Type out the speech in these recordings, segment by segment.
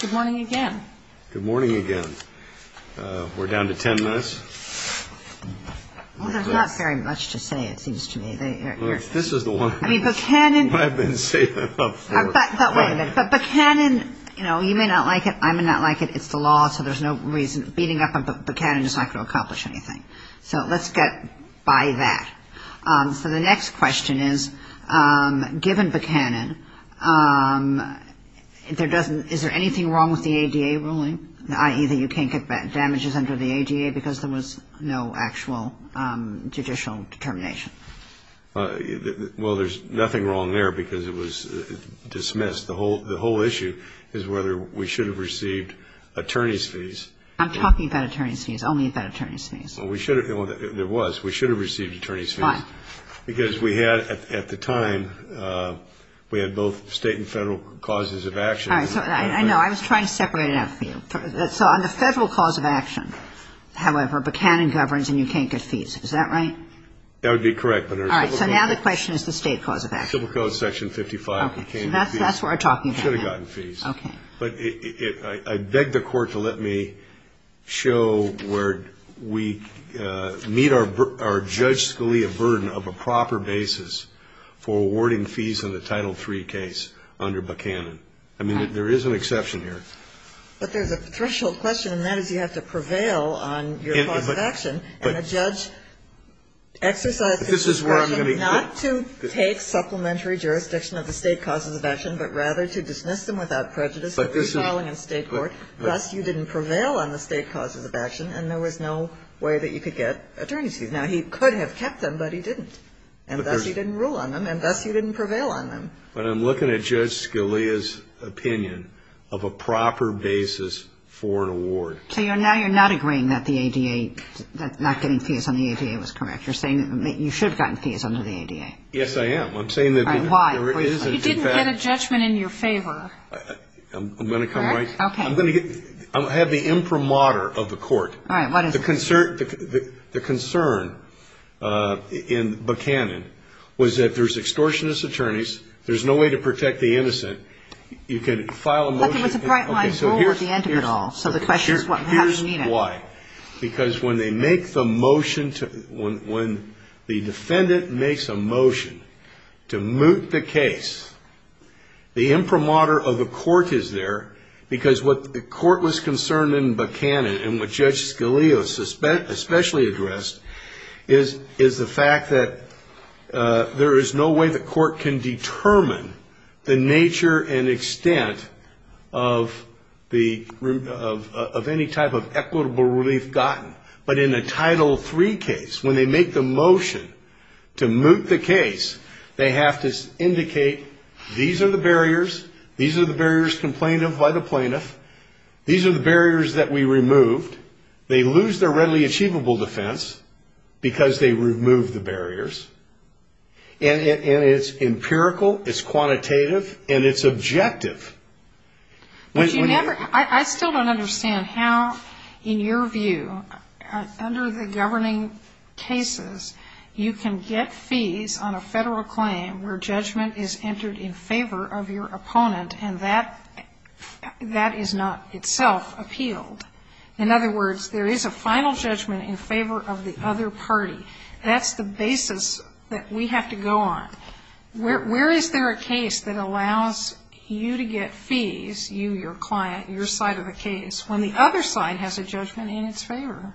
Good morning again. Good morning again. We're down to ten minutes. Well, there's not very much to say, it seems to me. This is the one I've been saving up for. But Buchanan, you know, you may not like it, I may not like it, it's the law, so there's no reason. Beating up Buchanan is not going to accomplish anything. So let's get by that. So the next question is, given Buchanan, is there anything wrong with the ADA ruling, i.e. that you can't get damages under the ADA because there was no actual judicial determination? Well, there's nothing wrong there because it was dismissed. The whole issue is whether we should have received attorney's fees. I'm talking about attorney's fees, only about attorney's fees. Well, we should have. Well, there was. We should have received attorney's fees. Why? Because we had, at the time, we had both State and Federal causes of action. All right. So I know. I was trying to separate it out for you. So on the Federal cause of action, however, Buchanan governs and you can't get fees. Is that right? That would be correct. All right. So now the question is the State cause of action. Civil Code, Section 55, you can't get fees. Okay. So that's what we're talking about. You should have gotten fees. Okay. But I beg the Court to let me show where we meet our Judge Scalia burden of a proper basis for awarding fees in the Title III case under Buchanan. I mean, there is an exception here. But there's a threshold question, and that is you have to prevail on your cause of action. And the judge exercised his discretion not to take supplementary jurisdiction of the State causes of action, but rather to dismiss them without prejudice. If you're filing in State court, thus you didn't prevail on the State causes of action, and there was no way that you could get attorney's fees. Now, he could have kept them, but he didn't. And thus you didn't rule on them, and thus you didn't prevail on them. But I'm looking at Judge Scalia's opinion of a proper basis for an award. So now you're not agreeing that the ADA, that not getting fees on the ADA was correct. You're saying that you should have gotten fees under the ADA. Yes, I am. I'm saying that there is a defect. Let's get a judgment in your favor. I'm going to come right to it. I'm going to have the imprimatur of the court. All right. What is it? The concern in Buchanan was that there's extortionist attorneys. There's no way to protect the innocent. You can file a motion. But there was a bright-line rule at the end of it all. So the question is what happens when you need it. Because when the defendant makes a motion to moot the case, the imprimatur of the court is there because what the court was concerned in Buchanan and what Judge Scalia especially addressed is the fact that there is no way the court can determine the nature and extent of any type of equitable relief gotten. But in a Title III case, when they make the motion to moot the case, they have to indicate these are the barriers. These are the barriers complained of by the plaintiff. These are the barriers that we removed. They lose their readily achievable defense because they removed the barriers. And it's empirical, it's quantitative, and it's objective. I still don't understand how, in your view, under the governing cases, you can get fees on a federal claim where judgment is entered in favor of your opponent and that is not itself appealed. In other words, there is a final judgment in favor of the other party. That's the basis that we have to go on. Where is there a case that allows you to get fees, you, your client, your side of the case, when the other side has a judgment in its favor?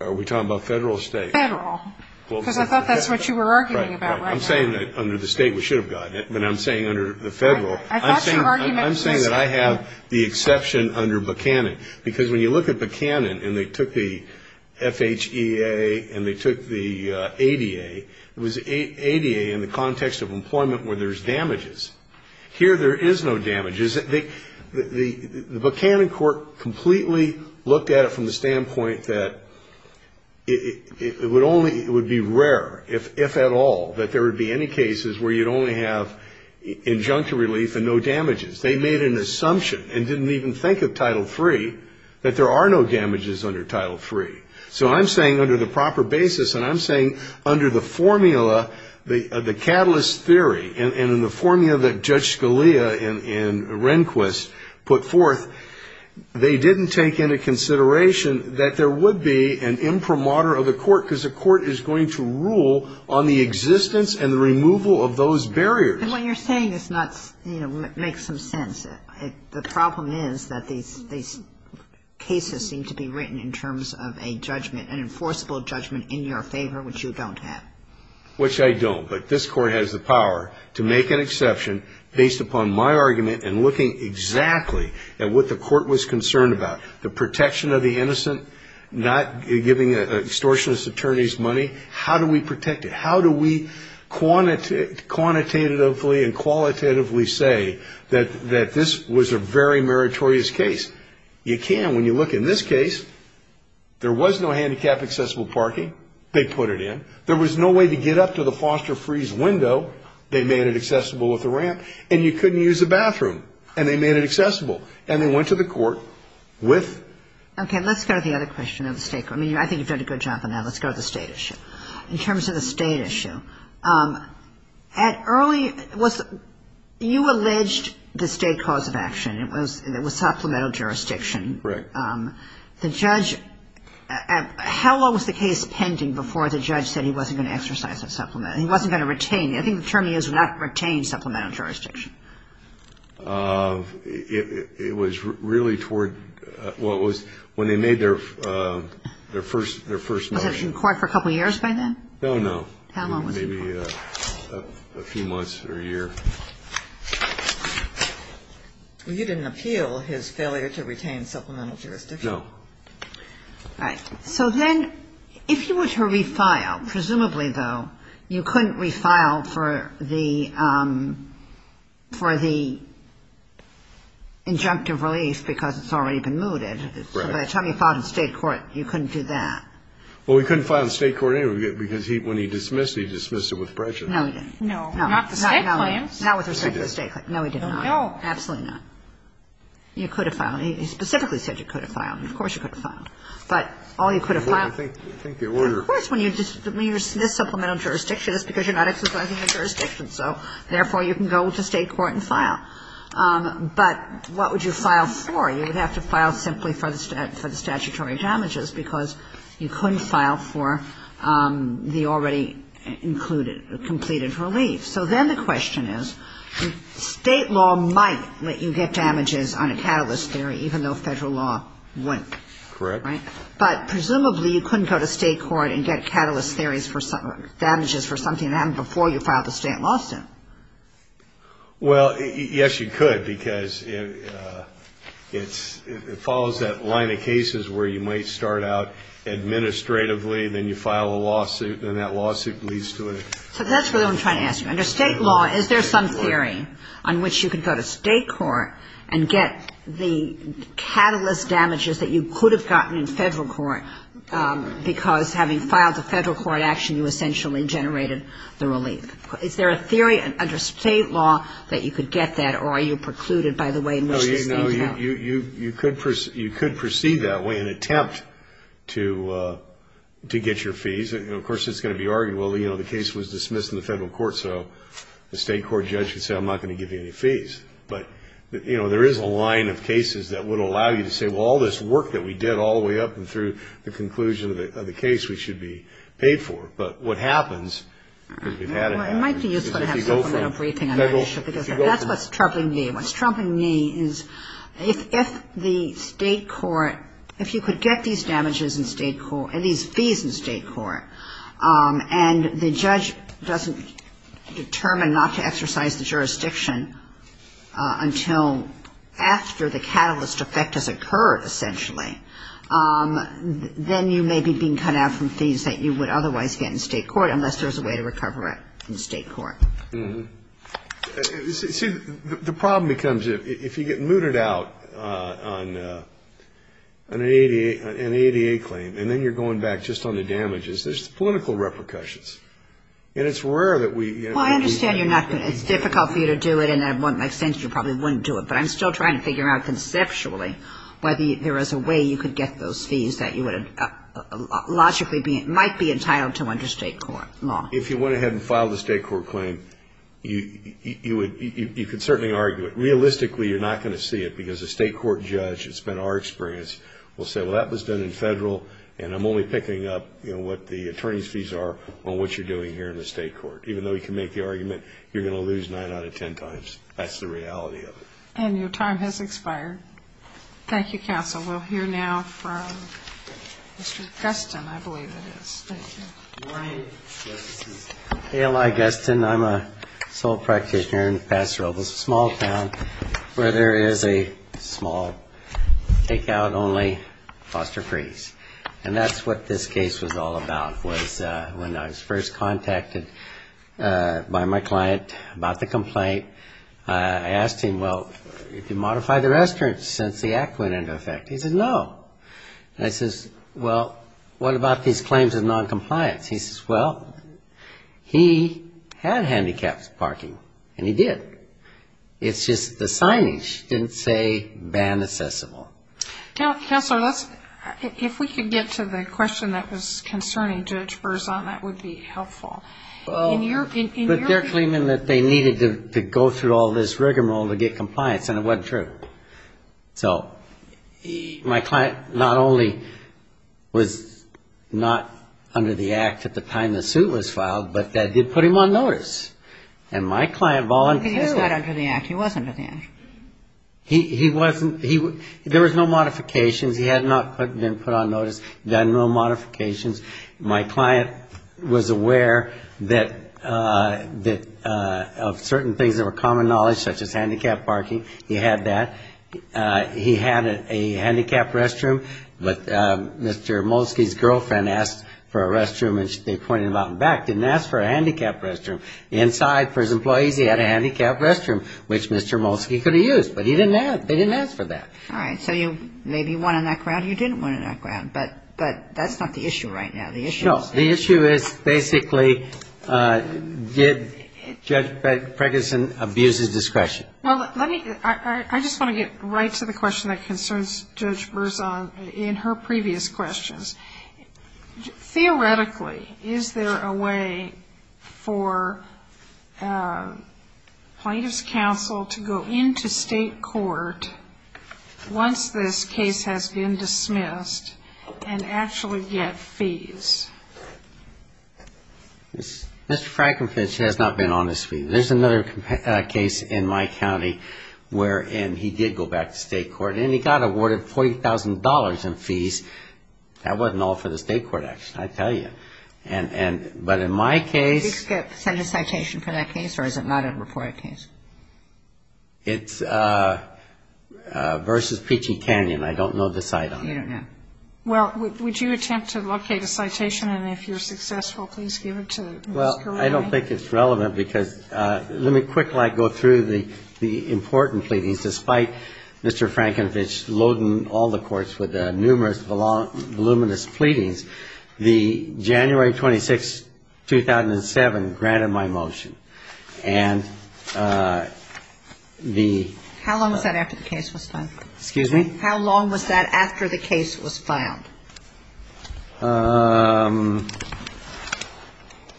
Are we talking about federal or state? Federal. Because I thought that's what you were arguing about. I'm saying that under the state we should have gotten it, but I'm saying under the federal. I'm saying that I have the exception under Buchanan. Because when you look at Buchanan and they took the FHEA and they took the ADA, it was ADA in the context of employment where there's damages. Here there is no damages. The Buchanan court completely looked at it from the standpoint that it would only be rare, if at all, that there would be any cases where you'd only have injunctive relief and no damages. They made an assumption and didn't even think of Title III that there are no damages under Title III. So I'm saying under the proper basis and I'm saying under the formula, the catalyst theory, and in the formula that Judge Scalia and Rehnquist put forth, they didn't take into consideration that there would be an imprimatur of the court, because the court is going to rule on the existence and the removal of those barriers. And what you're saying is not, you know, makes some sense. The problem is that these cases seem to be written in terms of a judgment, an enforceable judgment in your favor, which you don't have. Which I don't. But this court has the power to make an exception based upon my argument and looking exactly at what the court was concerned about, the protection of the innocent, not giving extortionist attorneys money. How do we protect it? How do we quantitatively and qualitatively say that this was a very meritorious case? You can when you look in this case. There was no handicapped accessible parking. They put it in. There was no way to get up to the foster-freeze window. They made it accessible with a ramp. And you couldn't use the bathroom. And they made it accessible. And they went to the court with. Okay. Let's go to the other question of the state. I mean, I think you've done a good job on that. Let's go to the state issue. In terms of the state issue, at early you alleged the state cause of action. It was supplemental jurisdiction. Correct. The judge, how long was the case pending before the judge said he wasn't going to exercise that supplement? He wasn't going to retain it. I think the term is not retain supplemental jurisdiction. It was really toward what was when they made their first motion. Was it in court for a couple years by then? No, no. How long was it? Maybe a few months or a year. Well, you didn't appeal his failure to retain supplemental jurisdiction. No. All right. So then if you were to refile, presumably, though, you couldn't refile for the injunctive relief because it's already been mooted. Right. So by the time you filed in state court, you couldn't do that. Well, he couldn't file in state court anyway because when he dismissed it, he dismissed it with pressure. No, he didn't. No. Not the state claims. Not with respect to the state claims. No, he didn't. No. Absolutely not. You could have filed. He specifically said you could have filed. Of course you could have filed. But all you could have filed. I think the order. Of course, when you dismiss supplemental jurisdiction, it's because you're not exercising the jurisdiction. So, therefore, you can go to state court and file. But what would you file for? You would have to file simply for the statutory damages because you couldn't file for the already included, completed relief. So then the question is, state law might let you get damages on a catalyst theory, even though federal law wouldn't. Correct. Right. But, presumably, you couldn't go to state court and get catalyst theories for damages for something that happened before you filed a state lawsuit. Well, yes, you could, because it follows that line of cases where you might start out administratively, then you file a lawsuit, and then that lawsuit leads to it. So that's what I'm trying to ask you. Under state law, is there some theory on which you could go to state court and get the catalyst damages that you could have gotten in federal court, because having filed the federal court action, you essentially generated the relief? Is there a theory under state law that you could get that, or are you precluded by the way in which this seems to happen? No, you could proceed that way and attempt to get your fees. Of course, it's going to be argued, well, you know, the case was dismissed in the federal court, so the state court judge could say, I'm not going to give you any fees. But, you know, there is a line of cases that would allow you to say, well, all this work that we did all the way up and through the conclusion of the case, we should be paid for. But what happens, because we've had it happen, is if you go from federal to state court. That's what's troubling me. What's troubling me is if the state court, if you could get these damages in state court, these fees in state court, and the judge doesn't determine not to exercise the jurisdiction until after the catalyst effect has occurred, essentially, then you may be being cut out from fees that you would otherwise get. Unless there's a way to recover it in state court. See, the problem becomes, if you get mooted out on an ADA claim, and then you're going back just on the damages, there's political repercussions. And it's rare that we do that. Well, I understand you're not going to, it's difficult for you to do it, and in my sense, you probably wouldn't do it. But I'm still trying to figure out conceptually whether there is a way you could get those fees that you would, logically, might be entitled to understand. If you went ahead and filed a state court claim, you could certainly argue it. Realistically, you're not going to see it, because a state court judge, it's been our experience, will say, well, that was done in federal, and I'm only picking up what the attorney's fees are on what you're doing here in the state court. Even though he can make the argument, you're going to lose nine out of ten times. That's the reality of it. And your time has expired. Thank you, counsel. We'll hear now from Mr. Gustin, I believe it is. Good morning. This is A.L.I. Gustin. I'm a sole practitioner in Paso Robles, a small town where there is a small take-out only foster freeze. And that's what this case was all about, was when I was first contacted by my client about the complaint. I asked him, well, did you modify the restaurant since the act went into effect? He said, no. And I says, well, what about these claims of noncompliance? He says, well, he had handicapped parking, and he did. It's just the signage didn't say banned accessible. Counselor, if we could get to the question that was concerning Judge Berzon, that would be helpful. But they're claiming that they needed to go through all this rigmarole to get compliance, and it wasn't true. So my client not only was not under the act at the time the suit was filed, but that did put him on notice. And my client volunteered. He was not under the act. He was under the act. He wasn't, there was no modifications. He had not been put on notice, done no modifications. My client was aware that of certain things that were common knowledge, such as handicapped parking, he had that. He had a handicapped restroom, but Mr. Molsky's girlfriend asked for a restroom, and they pointed him out in the back, didn't ask for a handicapped restroom. Inside, for his employees, he had a handicapped restroom, which Mr. Molsky could have used, but he didn't have, they didn't ask for that. All right, so you maybe won in that crowd, you didn't win in that crowd. But that's not the issue right now. No, the issue is basically did Judge Preggison abuse his discretion? Well, let me, I just want to get right to the question that concerns Judge Berzon in her previous questions. Theoretically, is there a way for plaintiff's counsel to go into state court once this case has been dismissed and actually get fees? Mr. Frankenfinch has not been on this case. There's another case in my county wherein he did go back to state court, and he got awarded $40,000 in fees. That wasn't all for the state court action, I tell you. But in my case... Did he send a citation for that case, or is it not a reported case? It's versus Peachy Canyon. I don't know the site on it. You don't know. Well, would you attempt to locate a citation, and if you're successful, please give it to Mr. Lane. Well, I don't think it's relevant, because let me quickly go through the important pleadings. Despite Mr. Frankenfinch loading all the courts with numerous voluminous pleadings, the January 26, 2007 granted my motion. And the... How long was that after the case was done? Excuse me? How long was that after the case was filed? I'm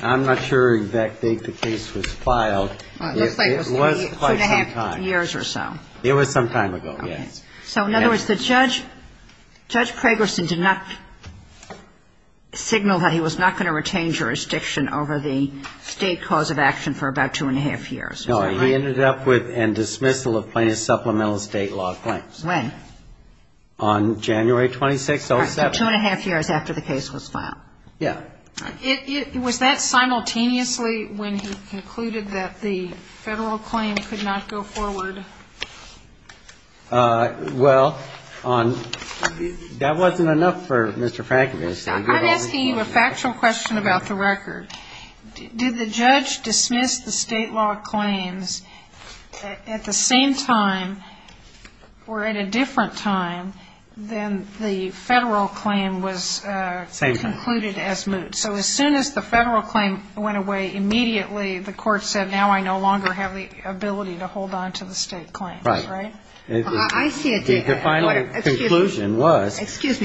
not sure of that date the case was filed. It looks like it was two and a half years or so. It was some time ago, yes. Okay. So in other words, the judge, Judge Pragerson did not signal that he was not going to retain jurisdiction over the state cause of action for about two and a half years, is that right? No. He ended up with a dismissal of plaintiff's supplemental state law claims. When? On January 26, 2007. So two and a half years after the case was filed. Yeah. Was that simultaneously when he concluded that the federal claim could not go forward? Well, that wasn't enough for Mr. Frankenfinch. I'm asking you a factual question about the record. Did the judge dismiss the state law claims at the same time or at a different time than the federal claim was concluded as moot? Same time. So as soon as the federal claim went away, immediately the court said, now I no longer have the ability to hold on to the state claims. Right. Right? The final conclusion was... And Judge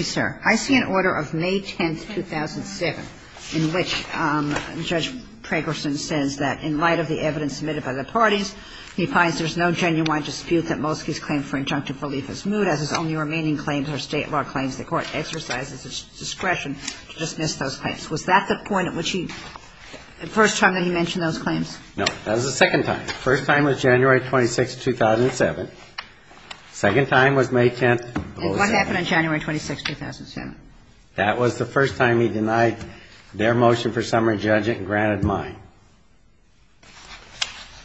Pragerson says that in light of the evidence submitted by the parties, he finds there's no genuine dispute that Molsky's claim for injunctive relief is moot, as his only remaining claims are state law claims. The court exercises its discretion to dismiss those claims. Was that the point at which he, the first time that he mentioned those claims? No. That was the second time. The first time was January 26, 2007. The second time was May 10, 2007. And what happened on January 26, 2007? That was the first time he denied their motion for summary judgment and granted mine.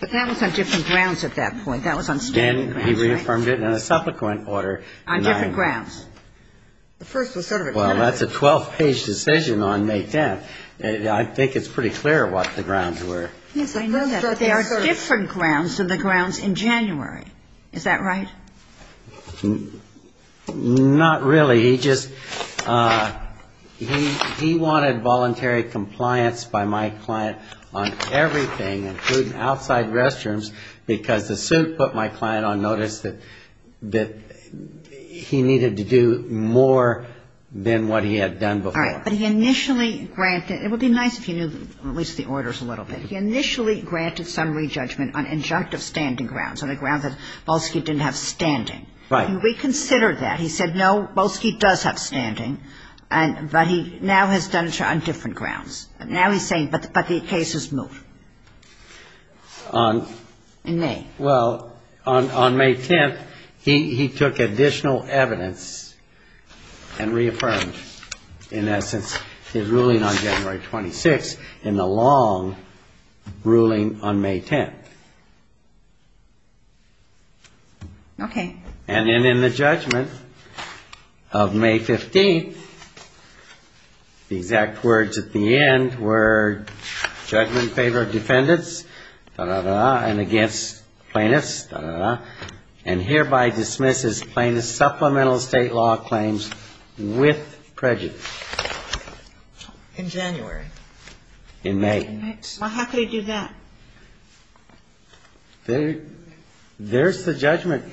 But that was on different grounds at that point. That was on standing grounds, right? Then he reaffirmed it in a supplicant order. On different grounds. The first was sort of a... Well, that's a 12-page decision on May 10. I think it's pretty clear what the grounds were. Yes, I know that. But they are different grounds than the grounds in January. Is that right? Not really. He just, he wanted voluntary compliance by my client on everything, including outside restrooms, because the suit put my client on notice that he needed to do more than what he had done before. All right. But he initially granted, it would be nice if you knew at least the orders a little bit, he initially granted summary judgment on injunctive standing grounds, on the Right. He reconsidered that. He said, no, Bolsky does have standing, but he now has done it on different grounds. Now he's saying, but the case is moved. On? In May. Well, on May 10th, he took additional evidence and reaffirmed, in essence, his ruling on January 26th in the long ruling on May 10th. Okay. And then in the judgment of May 15th, the exact words at the end were, judgment in favor of defendants, da, da, da, and against plaintiffs, da, da, da, and hereby dismisses plaintiffs' supplemental state law claims with prejudice. In January. In May. Well, how could he do that? There's the judgment.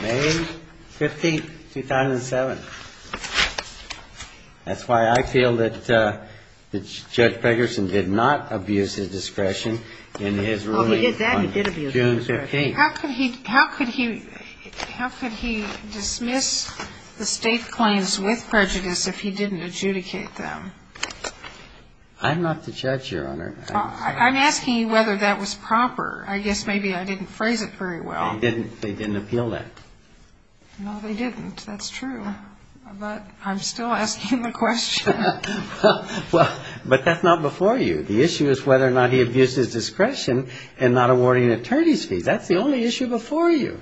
May 15th, 2007. That's why I feel that Judge Ferguson did not abuse his discretion in his ruling on June 15th. Well, he did that. He did abuse his discretion. I'm not the judge, Your Honor. I'm asking you whether that was proper. I guess maybe I didn't phrase it very well. They didn't appeal that. No, they didn't. That's true. But I'm still asking the question. Well, but that's not before you. The issue is whether or not he abused his discretion in not awarding an attorney's fee. That's the only issue before you.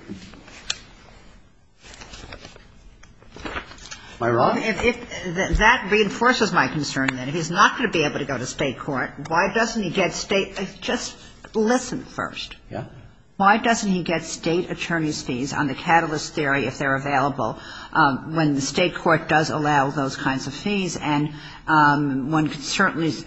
Am I wrong? If that reinforces my concern, then, if he's not going to be able to go to state court, why doesn't he get state – just listen first. Yeah. Why doesn't he get state attorney's fees on the catalyst theory if they're available when the state court does allow those kinds of fees? And one could certainly –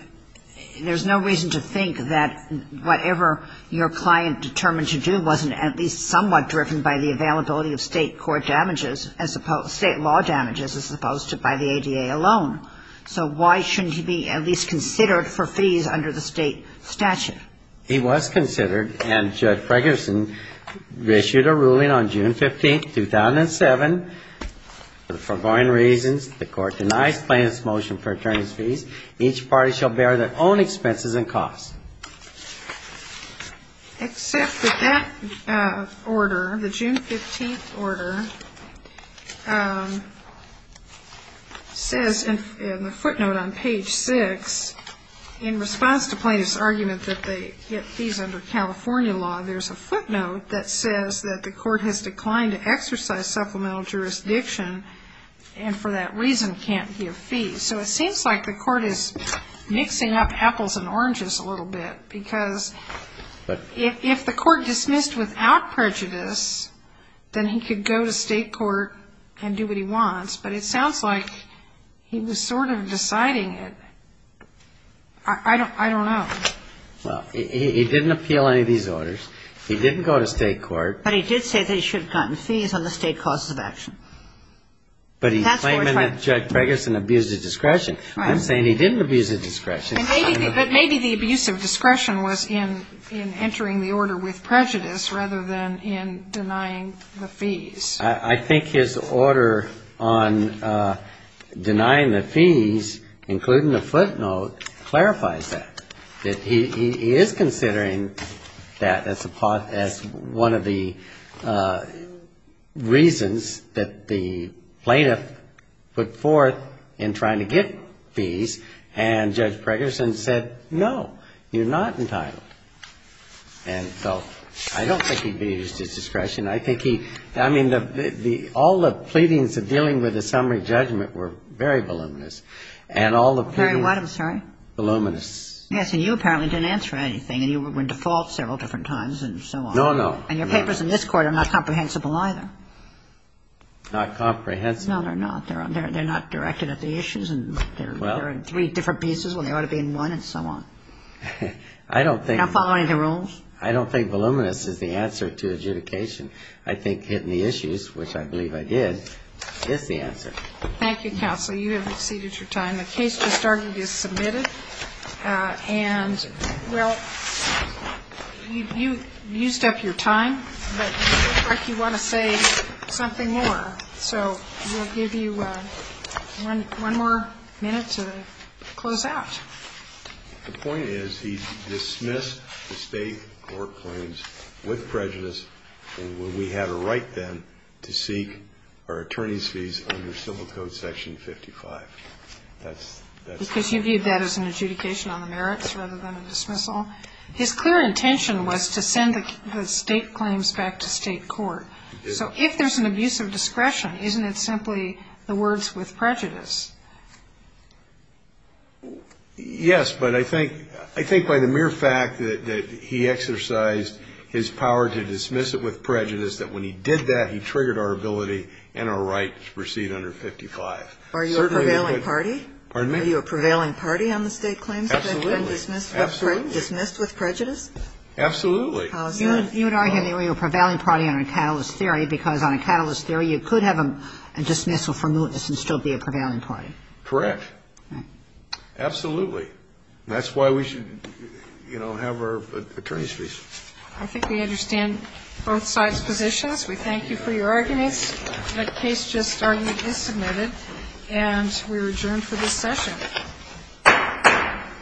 there's no reason to think that whatever your client determined to do wasn't at least somewhat driven by the availability of state court damages as opposed – state law damages as opposed to by the ADA alone. So why shouldn't he be at least considered for fees under the state statute? He was considered, and Judge Fregerson issued a ruling on June 15th, 2007, that for foreign reasons, the court denies plaintiff's motion for attorney's fees. Except that that order, the June 15th order, says in the footnote on page 6, in response to plaintiff's argument that they get fees under California law, there's a footnote that says that the court has declined to exercise supplemental jurisdiction and for that reason can't give fees. So it seems like the court is mixing up apples and oranges a little bit because if the court dismissed without prejudice, then he could go to state court and do what he wants, but it sounds like he was sort of deciding it. I don't know. Well, he didn't appeal any of these orders. He didn't go to state court. But he did say that he should have gotten fees on the state causes of action. But he's claiming that Judge Fregerson abused his discretion. Right. I'm saying he didn't abuse his discretion. But maybe the abuse of discretion was in entering the order with prejudice rather than in denying the fees. I think his order on denying the fees, including the footnote, clarifies that. He is considering that as one of the reasons that the plaintiff put forth in trying to get fees, and Judge Fregerson said, no, you're not entitled. And so I don't think he abused his discretion. I think he – I mean, all the pleadings of dealing with the summary judgment were very voluminous. And all the pleadings were voluminous. Yes. And you apparently didn't answer anything. And you were in default several different times and so on. No, no. And your papers in this Court are not comprehensible either. Not comprehensible? No, they're not. They're not directed at the issues. They're in three different pieces when they ought to be in one and so on. I don't think – Not following the rules. I don't think voluminous is the answer to adjudication. I think hitting the issues, which I believe I did, is the answer. Thank you, counsel. You have exceeded your time. And the case, we started, is submitted. And, well, you used up your time, but it looks like you want to say something more. So we'll give you one more minute to close out. The point is he dismissed the State court claims with prejudice, and we had a right then to seek our attorney's fees under Civil Code Section 55. Because you viewed that as an adjudication on the merits rather than a dismissal? His clear intention was to send the State claims back to State court. So if there's an abuse of discretion, isn't it simply the words with prejudice? Yes, but I think by the mere fact that he exercised his power to dismiss it with prejudice, that when he did that, he triggered our ability and our right to proceed under 55. Are you a prevailing party? Pardon me? Are you a prevailing party on the State claims? Absolutely. And dismissed with prejudice? Absolutely. You would argue that you're a prevailing party on a catalyst theory, because on a catalyst theory, you could have a dismissal for mootness and still be a prevailing party. Correct. Absolutely. That's why we should, you know, have our attorney's fees. I think we understand both sides' positions. We thank you for your arguments. The case just argued is submitted, and we're adjourned for this session.